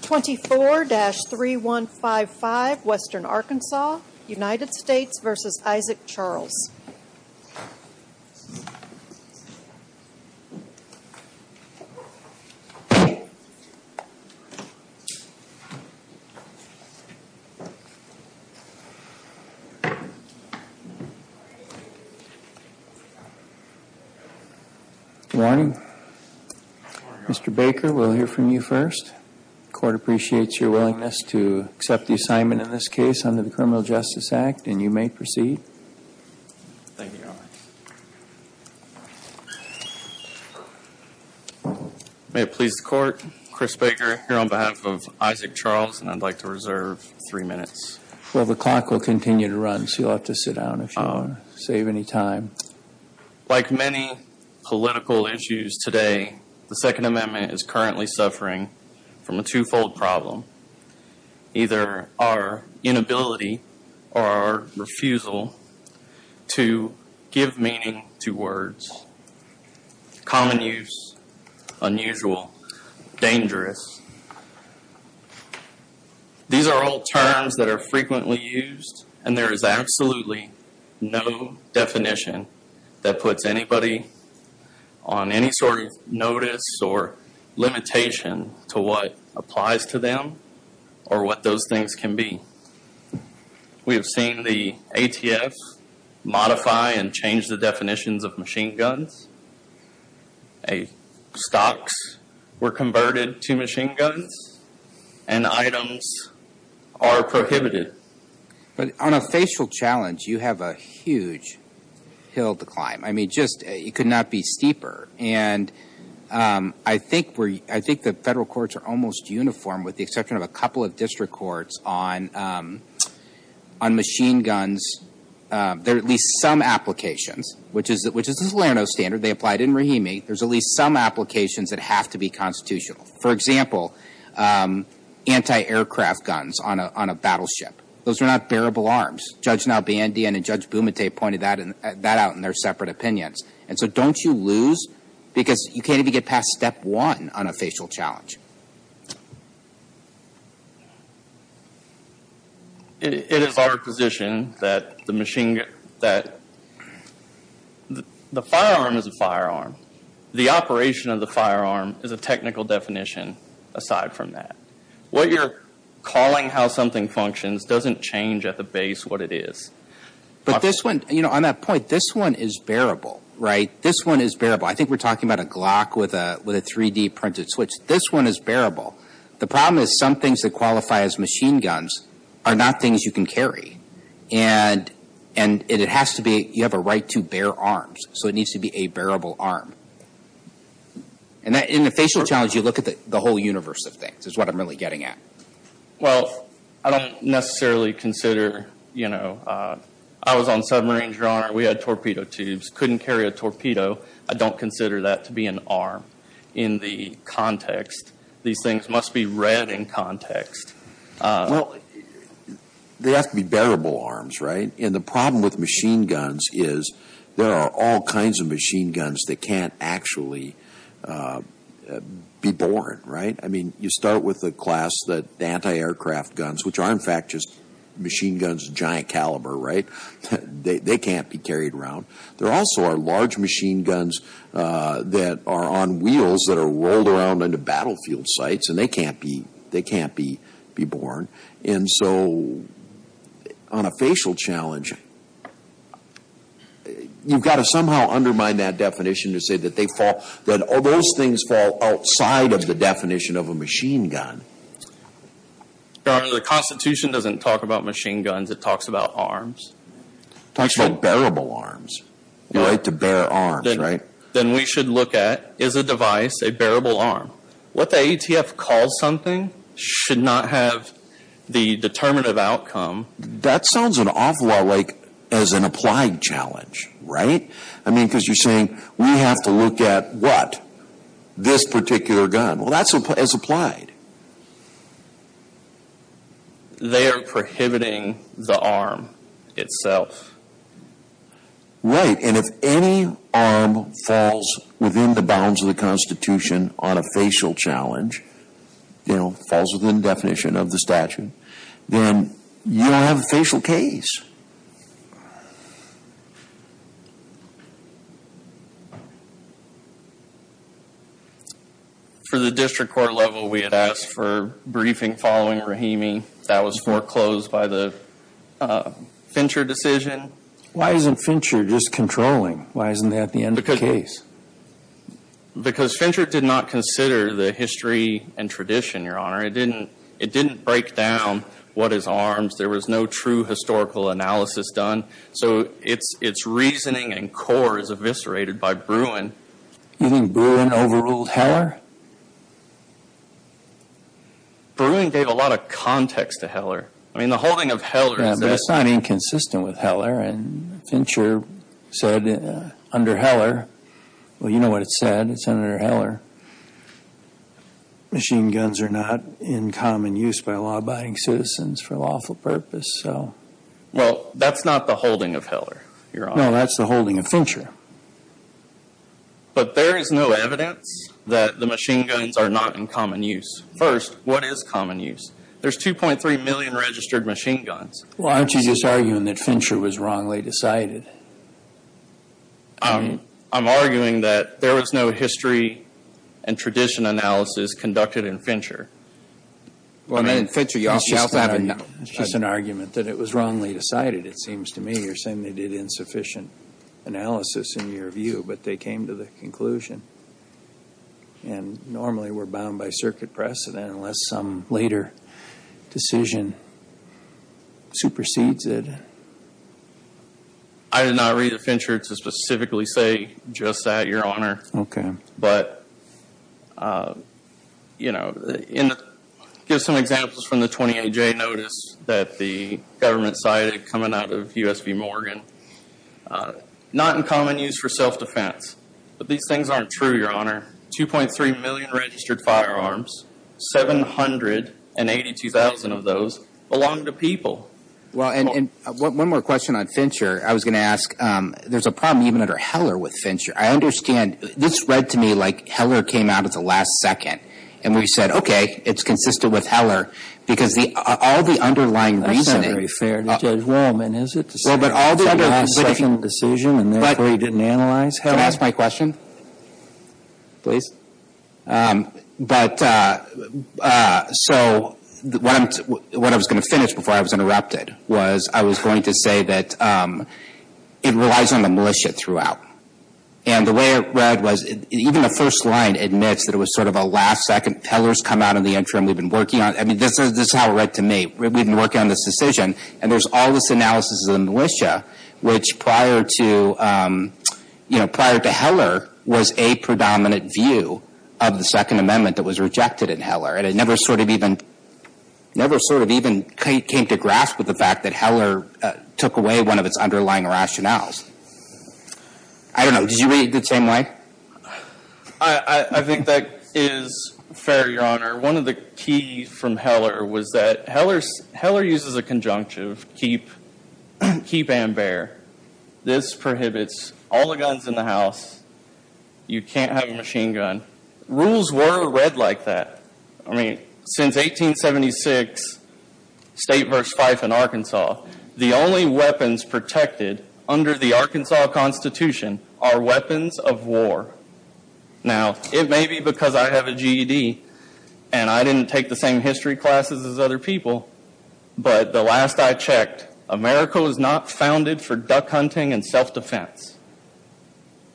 24-3155 Western Arkansas United States v. Isaac Charles 24-3155 Western Arkansas United States v. Isaac Charles Good morning. Mr. Baker, we'll hear from you first. Court appreciates your willingness to accept the assignment in this case under the Criminal Justice Act and you may proceed. May it please the court, Chris Baker here on behalf of Isaac Charles and I'd like to reserve three minutes. Well, the clock will continue to run so you'll have to sit down if you want to save any time. Like many political issues today, the Second Amendment is currently suffering from a two-fold problem. Either our inability or our refusal to give meaning to words. Common use, unusual, dangerous. These are all terms that are frequently used and there is absolutely no definition that puts anybody on any sort of notice or limitation to what applies to them or what those things can be. We have seen the ATF modify and change the definitions of machine guns. Stocks were converted to machine guns and items are prohibited. On a facial challenge, you have a huge hill to climb. It could not be steeper. I think the federal courts are almost uniform with the exception of a couple of district courts on machine guns. There are at least some applications, which is the Salerno standard. They applied in Rahimi. There's at least some applications that have to be constitutional. For example, anti-aircraft guns on a battleship. Those are not bearable arms. Judge Nalbandian and Judge Bumate pointed that out in their separate opinions. Don't you lose because you can't even get past step one on a facial challenge. It is our position that the firearm is a firearm. The operation of the firearm is a technical definition aside from that. What you're calling how something functions doesn't change at the base what it is. On that point, this one is bearable. I think we're talking about a Glock with a 3D printed switch. This one is bearable. The problem is some things that qualify as machine guns are not things you can carry. You have a right to bear arms. It needs to be a bearable arm. In the facial challenge, you look at the whole universe of things is what I'm really getting at. I don't necessarily consider. I was on submarines. Your Honor, we had torpedo tubes. I couldn't carry a torpedo. I don't consider that to be an arm in the context. These things must be read in context. They have to be bearable arms. The problem with machine guns is there are all kinds of machine guns that can't actually be born. You start with the class that anti-aircraft guns, which are in fact just machine guns, giant caliber. They can't be carried around. There also are large machine guns that are on wheels that are rolled around into battlefield sites. They can't be born. On a facial challenge, you've got to somehow undermine that definition to say that those things fall outside of the definition of a machine gun. Your Honor, the Constitution doesn't talk about machine guns. It talks about arms. It talks about bearable arms. The right to bear arms, right? Then we should look at, is a device a bearable arm? What the ATF calls something should not have the determinative outcome. That sounds an awful lot like as an applied challenge, right? I mean, because you're saying we have to look at what? This particular gun. Well, that's as applied. They are prohibiting the arm itself. Right, and if any arm falls within the bounds of the Constitution on a facial challenge, falls within the definition of the statute, then you don't have briefing following Rahimi. That was foreclosed by the Fincher decision. Why isn't Fincher just controlling? Why isn't that the end of the case? Because Fincher did not consider the history and tradition, Your Honor. It didn't break down what is arms. There was no true historical analysis done. So, its reasoning and core is eviscerated by Bruin. You think Bruin overruled Heller? Bruin gave a lot of context to Heller. I mean, the holding of Heller. It's not inconsistent with Heller and Fincher said under Heller, well, you know what it said, it's under Heller. Machine guns are not in common use by law-abiding citizens for lawful purpose. Well, that's not the holding of Heller, Your Honor. No, that's the holding of Fincher. But there is no evidence that the machine guns are not in common use. First, what is common use? There's 2.3 million registered machine guns. Well, aren't you just arguing that Fincher was wrongly decided? I'm arguing that there was no history and tradition analysis conducted in Fincher. Well, I mean, in Fincher, you also have a... It's just an argument that it was wrongly decided. It seems to me you're saying they did insufficient analysis in your view, but they came to the conclusion. And normally, we're bound by circuit precedent unless some later decision supersedes it. I did not read the Fincher to specifically say just that, Your Honor. Okay. But, you know, give some examples from the 20-A-J notice that the government cited coming out of U.S. v. Morgan. Not in common use for self-defense. But these things aren't true, Your Honor. 2.3 million registered firearms, 782,000 of those belong to people. Well, and one more question on Fincher. I was going to ask, there's a problem even under Heller with Fincher. I understand, this read to me like Heller came out at the last second. And we said, okay, it's consistent with Heller. Because all the underlying reasoning... That's not very fair to Judge Wohlman, is it? To say it's the last second decision and therefore you didn't analyze Heller? Can I ask my question? Please. But, so, what I was going to finish before I was interrupted was I was going to say that it relies on the militia throughout. And the way it read was, even the first line admits that it was sort of a last second. Heller's come out in the interim. We've been working on it. I mean, this is how it read to me. We've been working on this decision. And there's all this analysis of the militia, which prior to, you know, prior to Heller was a predominant view of the Second Amendment that was rejected in Heller. And it never sort of even came to grasp with the fact that Heller took away one of its underlying rationales. I don't know. Did you read it the same way? I think that is fair, Your Honor. One of the keys from Heller was that Heller uses a conjunctive, keep, keep and bear. This prohibits all the guns in the house. You can't have a The only weapons protected under the Arkansas Constitution are weapons of war. Now, it may be because I have a GED and I didn't take the same history classes as other people, but the last I checked, America was not founded for duck hunting and self-defense.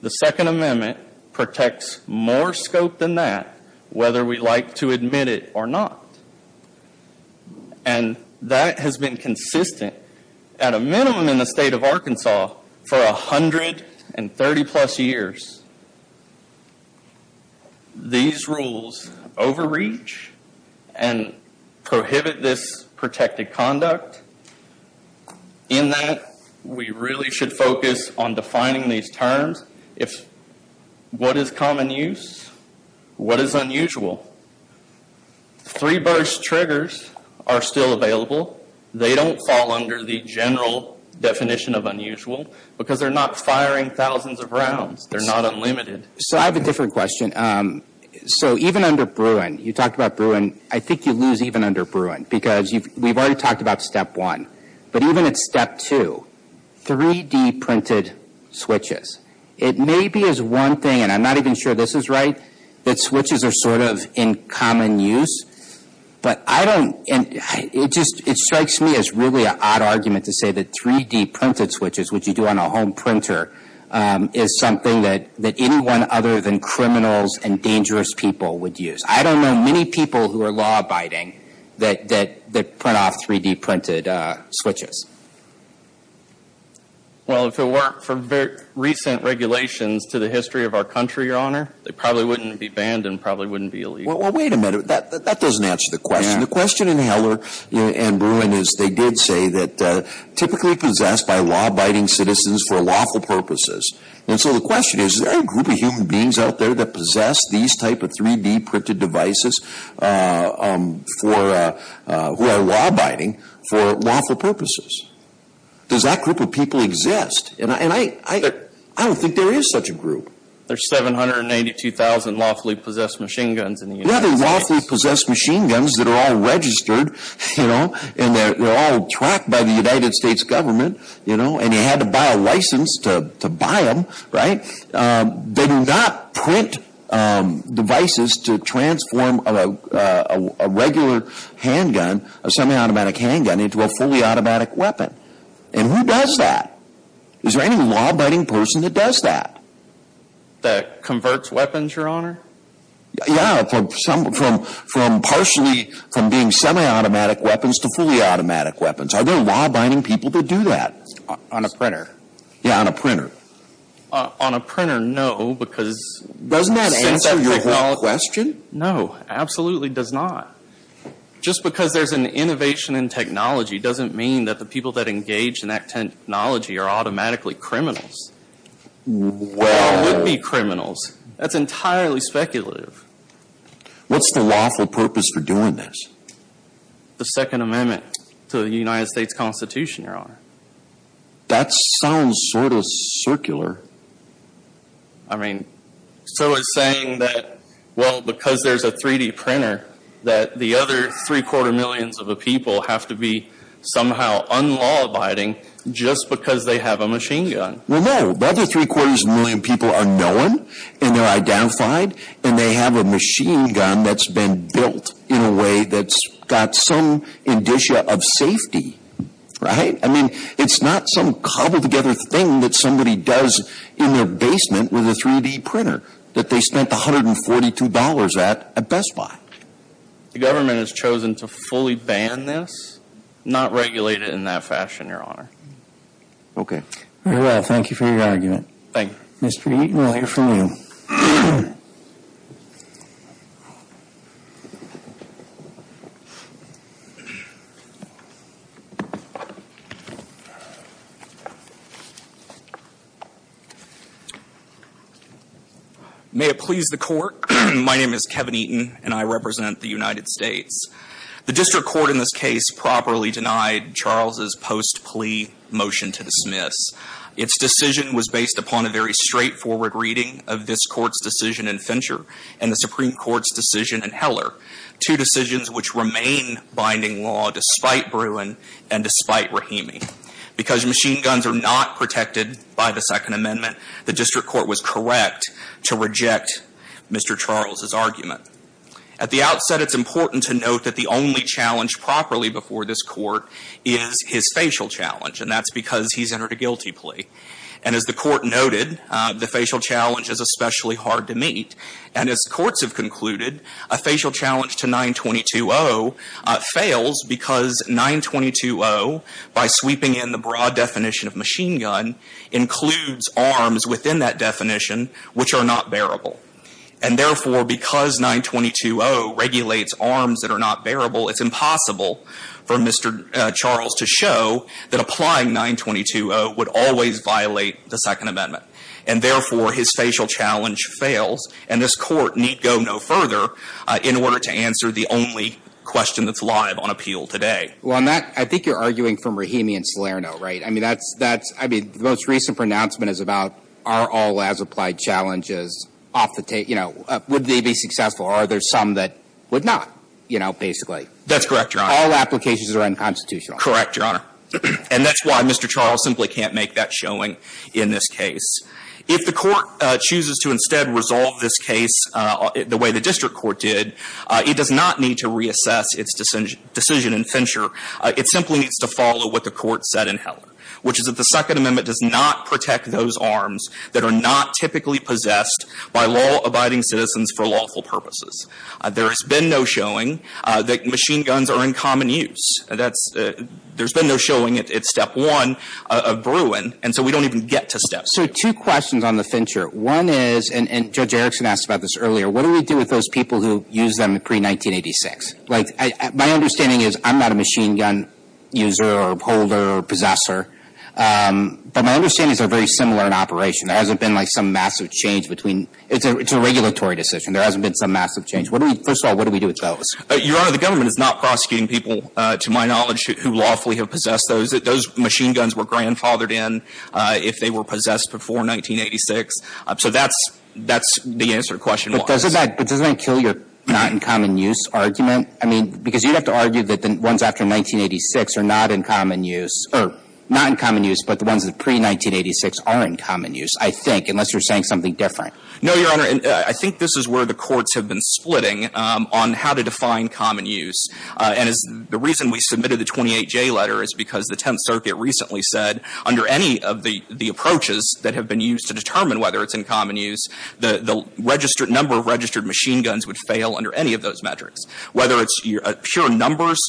The Second Amendment protects more scope than that, whether we like to admit it or not. And that has been consistent at a minimum in the state of Arkansas for 130 plus years. These rules overreach and prohibit this protected conduct in that we really should focus on triggers are still available. They don't fall under the general definition of unusual because they're not firing thousands of rounds. They're not unlimited. So I have a different question. So even under Bruin, you talked about Bruin. I think you lose even under Bruin because we've already talked about step one. But even at step two, 3D printed switches, it may be as one thing, and I'm not even sure this is right, that switches are sort of in common use. But it strikes me as really an odd argument to say that 3D printed switches, which you do on a home printer, is something that anyone other than criminals and dangerous people would use. I don't know many people who are law-abiding that print off 3D printed switches. Well, if it weren't for recent regulations to the history of our country, Your Honor, they probably wouldn't be banned and probably wouldn't be illegal. Wait a minute. That doesn't answer the question. The question in Heller and Bruin is they did say that typically possessed by law-abiding citizens for lawful purposes. And so the question is, is there any group of human beings out there that possess these type of 3D printed devices who are law-abiding for lawful purposes? Does that group of people exist? I don't think there is such a group. There's 792,000 lawfully possessed machine guns in the United States. Yeah, they're lawfully possessed machine guns that are all registered, you know, and they're all tracked by the United States government, you know, and you had to buy a license to buy them, right? They do not print devices to transform a regular handgun, a semi-automatic handgun, into a fully automatic weapon. And who does that? Is there any law-abiding person that does that? That converts weapons, Your Honor? Yeah, from partially, from being semi-automatic weapons to fully automatic weapons. Are there law-abiding people that do that? On a printer. Yeah, on a printer. On a printer, no, because... Doesn't that answer your whole question? No, absolutely does not. Just because there's an innovation in technology doesn't mean that people that engage in that technology are automatically criminals. Wow. Or would be criminals. That's entirely speculative. What's the lawful purpose for doing this? The Second Amendment to the United States Constitution, Your Honor. That sounds sort of circular. I mean, so it's saying that, well, because there's a 3D printer, that the other three-quarter of a million people have to be somehow unlaw-abiding just because they have a machine gun. Well, no. The other three-quarters of a million people are known, and they're identified, and they have a machine gun that's been built in a way that's got some indicia of safety, right? I mean, it's not some cobbled-together thing that somebody does in their basement with a 3D printer that they spent $142 at at Best Buy. The government has chosen to fully ban this, not regulate it in that fashion, Your Honor. Okay. Very well. Thank you for your argument. Thank you. Mr. Eaton, we'll hear from you. May it please the Court, my name is Kevin Eaton, and I represent the United States. The district court in this case properly denied Charles's post-plea motion to dismiss. Its decision was based upon a very straightforward reading of this Court's decision in Fincher and the Supreme Court's decision in Heller, two decisions which remain binding law despite Bruin and despite Rahimi. Because machine guns are not protected by the Second Amendment, the district court was correct to reject Mr. Charles's argument. At the outset, it's important to note that the only challenge properly before this Court is his facial challenge, and that's because he's entered a guilty plea. And as the Court noted, the facial challenge is especially hard to meet. And as courts have concluded, a facial challenge to 922-0 fails because 922-0, by sweeping in the broad definition of machine gun, includes arms within that definition which are not bearable. And therefore, because 922-0 regulates arms that are not bearable, it's impossible for Mr. Charles to show that applying 922-0 would always violate the Second Amendment. And therefore, his facial challenge fails. And this Court need go no further in order to answer the only question that's live on appeal today. Well, on that, I think you're arguing from Rahimi and Salerno, right? I mean, that's, that's, I mean, the most recent pronouncement is about are all as-applied challenges off the tape, you know, would they be successful? Are there some that would not, you know, basically? That's correct, Your Honor. All applications are unconstitutional. Correct, Your Honor. And that's why Mr. Charles simply can't make that showing in this case. If the Court chooses to instead resolve this case the way the district court did, it does not need to reassess its decision in Fincher. It simply needs to follow what the Court said in Heller, which is that the Second Amendment does not protect those arms that are not typically possessed by law-abiding citizens for lawful purposes. There has been no showing that machine guns are in common use. That's, there's been no showing at step one of Bruin, and so we don't even get to steps. So two questions on the Fincher. One is, and Judge Erickson asked about this earlier, what do we do with those people who use them pre-1986? Like, my understanding is I'm not a machine gun user or holder or possessor, but my understanding is they're very similar in operation. There hasn't been, like, some massive change between, it's a regulatory decision. There hasn't been some massive change. What do we, first of all, what do we do with those? Your Honor, the government is not prosecuting people, to my knowledge, who lawfully have possessed those. Those machine guns were grandfathered in if they were possessed before 1986. So that's, that's the answer to question one. But doesn't that, but doesn't that kill your not in common use argument? I mean, because you'd have to argue that the ones after 1986 are not in common use, or not in common use, but the ones pre-1986 are in common use, I think, unless you're saying something different. No, Your Honor. And I think this is where the courts have been splitting on how to define common use. And the reason we submitted the 28J letter is because the Tenth Circuit recently said, under any of the approaches that have been used to determine whether it's in common use, the registered, number of registered machine guns would fail under any of those metrics. Whether it's a pure numbers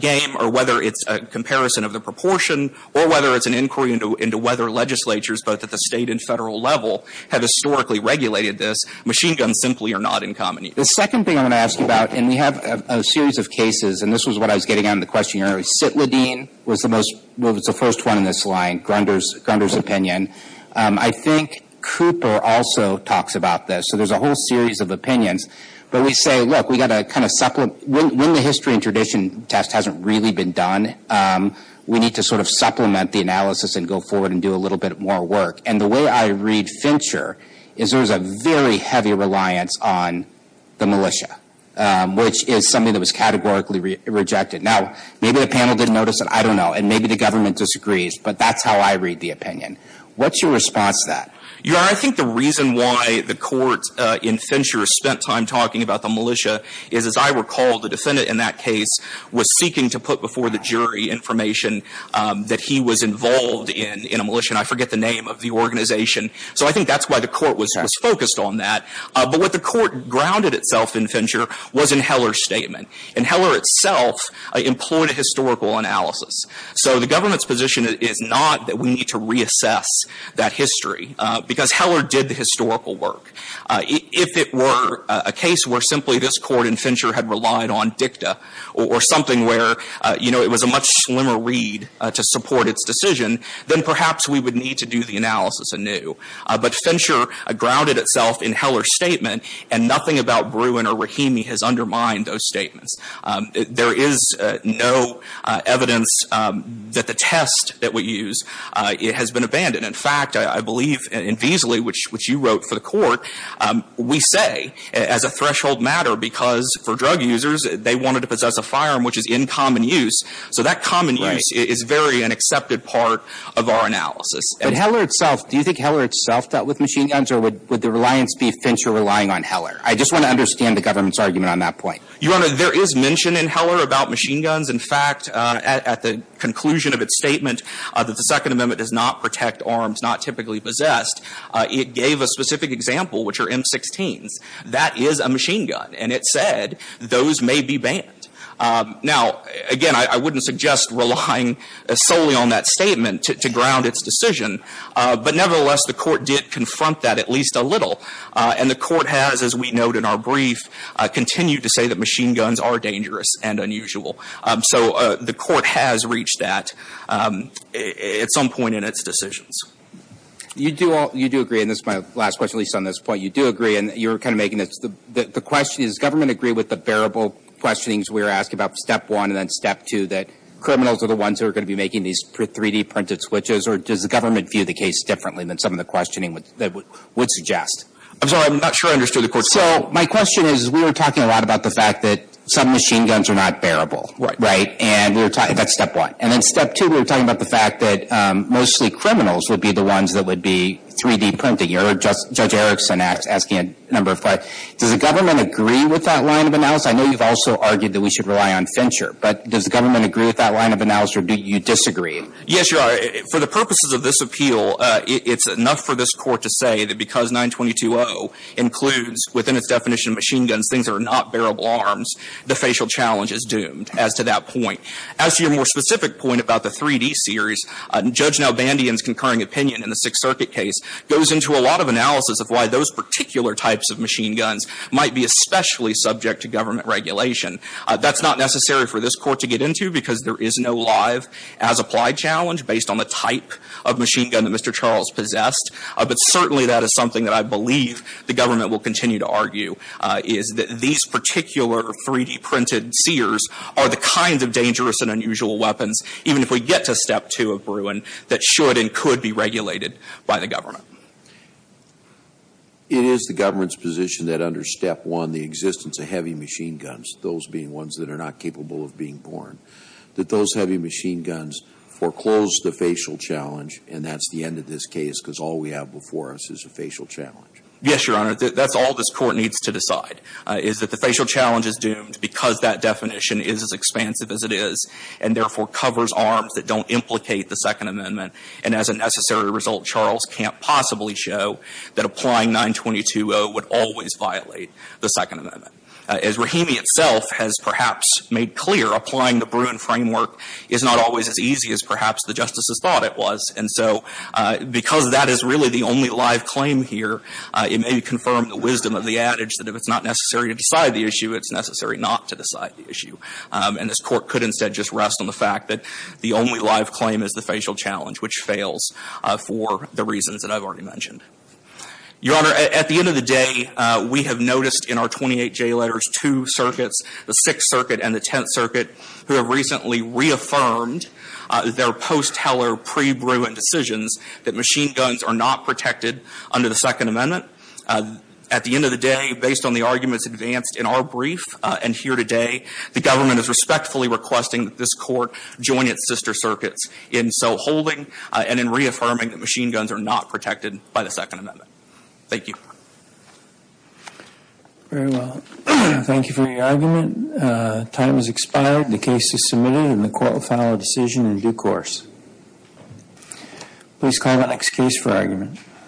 game, or whether it's a comparison of the proportion, or whether it's an inquiry into whether legislatures, both at the State and Federal level, have historically regulated this, machine guns simply are not in common use. The second thing I want to ask you about, and we have a series of cases, and this was what I was getting at in the question, Your Honor. Cytlidine was the most, was the first one in this line, Grunder's, Grunder's opinion. I think Cooper also talks about this. So there's a whole series of opinions. But we say, look, we've got to kind of supplement, when, when the history and tradition test hasn't really been done, we need to sort of supplement the analysis and go forward and do a little bit more work. And the way I read Fincher is there's a very heavy reliance on the militia, which is something that was categorically rejected. Now, maybe the panel didn't notice it. I don't know. And maybe the government disagrees. But that's how I read the opinion. What's your response to that? Your Honor, I think the reason why the court in Fincher spent time talking about the militia is, as I recall, the defendant in that case was seeking to put before the jury information that he was involved in, in a militia. And I forget the name of the organization. So I think that's why the court was focused on that. But what the court grounded itself in Fincher was in Heller's statement. And Heller itself employed a historical analysis. So the government's position is not that we need to reassess that history, because Heller did the historical work. If it were a case where simply this court in Fincher had relied on dicta or something where it was a much slimmer read to support its decision, then perhaps we would need to do the analysis anew. But Fincher grounded itself in Heller's statement. And nothing about Bruin or Rahimi has undermined those statements. There is no evidence that the test that we use has been abandoned. In fact, I believe in Veazley, which you wrote for the court, we say as a threshold matter, because for drug users, they wanted to possess a firearm which is in common use. So that common use is very an accepted part of our analysis. But Heller itself, do you think Heller itself dealt with machine guns? Or would the reliance be Fincher relying on Heller? I just want to understand the government's argument on that point. Your Honor, there is mention in Heller about machine guns. In fact, at the conclusion of its statement that the Second Amendment does not protect arms not typically possessed, it gave a specific example, which are M16s. That is a machine gun. And it said those may be banned. Now, again, I wouldn't suggest relying solely on that statement to ground its decision. But nevertheless, the court did confront that at least a little. And the court has, as we note in our brief, continued to say that machine guns are dangerous and unusual. So the court has reached that at some point in its decisions. You do agree. And this is my last question, at least on this point. You do agree. And you're kind of making the question, does the government agree with the bearable questionings we were asked about Step 1 and then Step 2, that criminals are the ones who are going to be making these 3D printed switches? Or does the government view the case differently than some of the questioning that would suggest? I'm sorry. I'm not sure I understood the question. So my question is, we were talking a lot about the fact that some machine guns are not bearable. Right. Right. And we were talking about Step 1. And then Step 2, we were talking about the fact that mostly criminals would be the ones that would be 3D printing. Judge Erickson asked, asking a number of questions. Does the government agree with that line of analysis? I know you've also argued that we should rely on Fincher. But does the government agree with that line of analysis? Or do you disagree? Yes, Your Honor. For the purposes of this appeal, it's enough for this Court to say that because 922-0 includes, within its definition of machine guns, things that are not bearable arms, the facial challenge is doomed as to that point. As to your more specific point about the 3D series, Judge Nalbandian's concurring opinion in the Sixth Circuit case goes into a lot of analysis of why those particular types of machine guns might be especially subject to government regulation. That's not necessary for this Court to get into, because there is no live-as-applied challenge based on the type of machine gun that Mr. Charles possessed. But certainly, that is something that I believe the government will continue to argue, is that these particular 3D-printed Sears are the kinds of dangerous and unusual weapons, even if we get to Step 2 of Bruin, that should and could be regulated by the government. It is the government's position that under Step 1, the existence of heavy machine guns, those being ones that are not capable of being borne, that those heavy machine guns foreclose the facial challenge, and that's the end of this case, because all we have before us is a facial challenge. Yes, Your Honor. That's all this Court needs to decide, is that the facial challenge is doomed because that definition is as expansive as it is and, therefore, covers arms that don't implicate the Second Amendment. And as a necessary result, Charles can't possibly show that applying 922-0 would always violate the Second Amendment. As Rahimi itself has perhaps made clear, applying the Bruin framework is not always as easy as perhaps the justices thought it was. And so because that is really the only live claim here, it may confirm the wisdom of the adage that if it's not necessary to decide the issue, it's necessary not to decide the issue. And this Court could instead just rest on the fact that the only live claim is the facial challenge, which fails for the reasons that I've already mentioned. Your Honor, at the end of the day, we have noticed in our 28 jayletters two circuits, the Sixth Circuit and the Tenth Circuit, who have recently reaffirmed their post-Heller pre-Bruin decisions that machine guns are not protected under the Second Amendment. At the end of the day, based on the arguments advanced in our brief and here today, the government is respectfully requesting that this Court join its sister circuits in so holding and in reaffirming that machine guns are not protected by the Second Amendment. Thank you. Very well. Thank you for your argument. Time has expired. The case is submitted and the Court will file a decision in due course. Please call the next case for argument.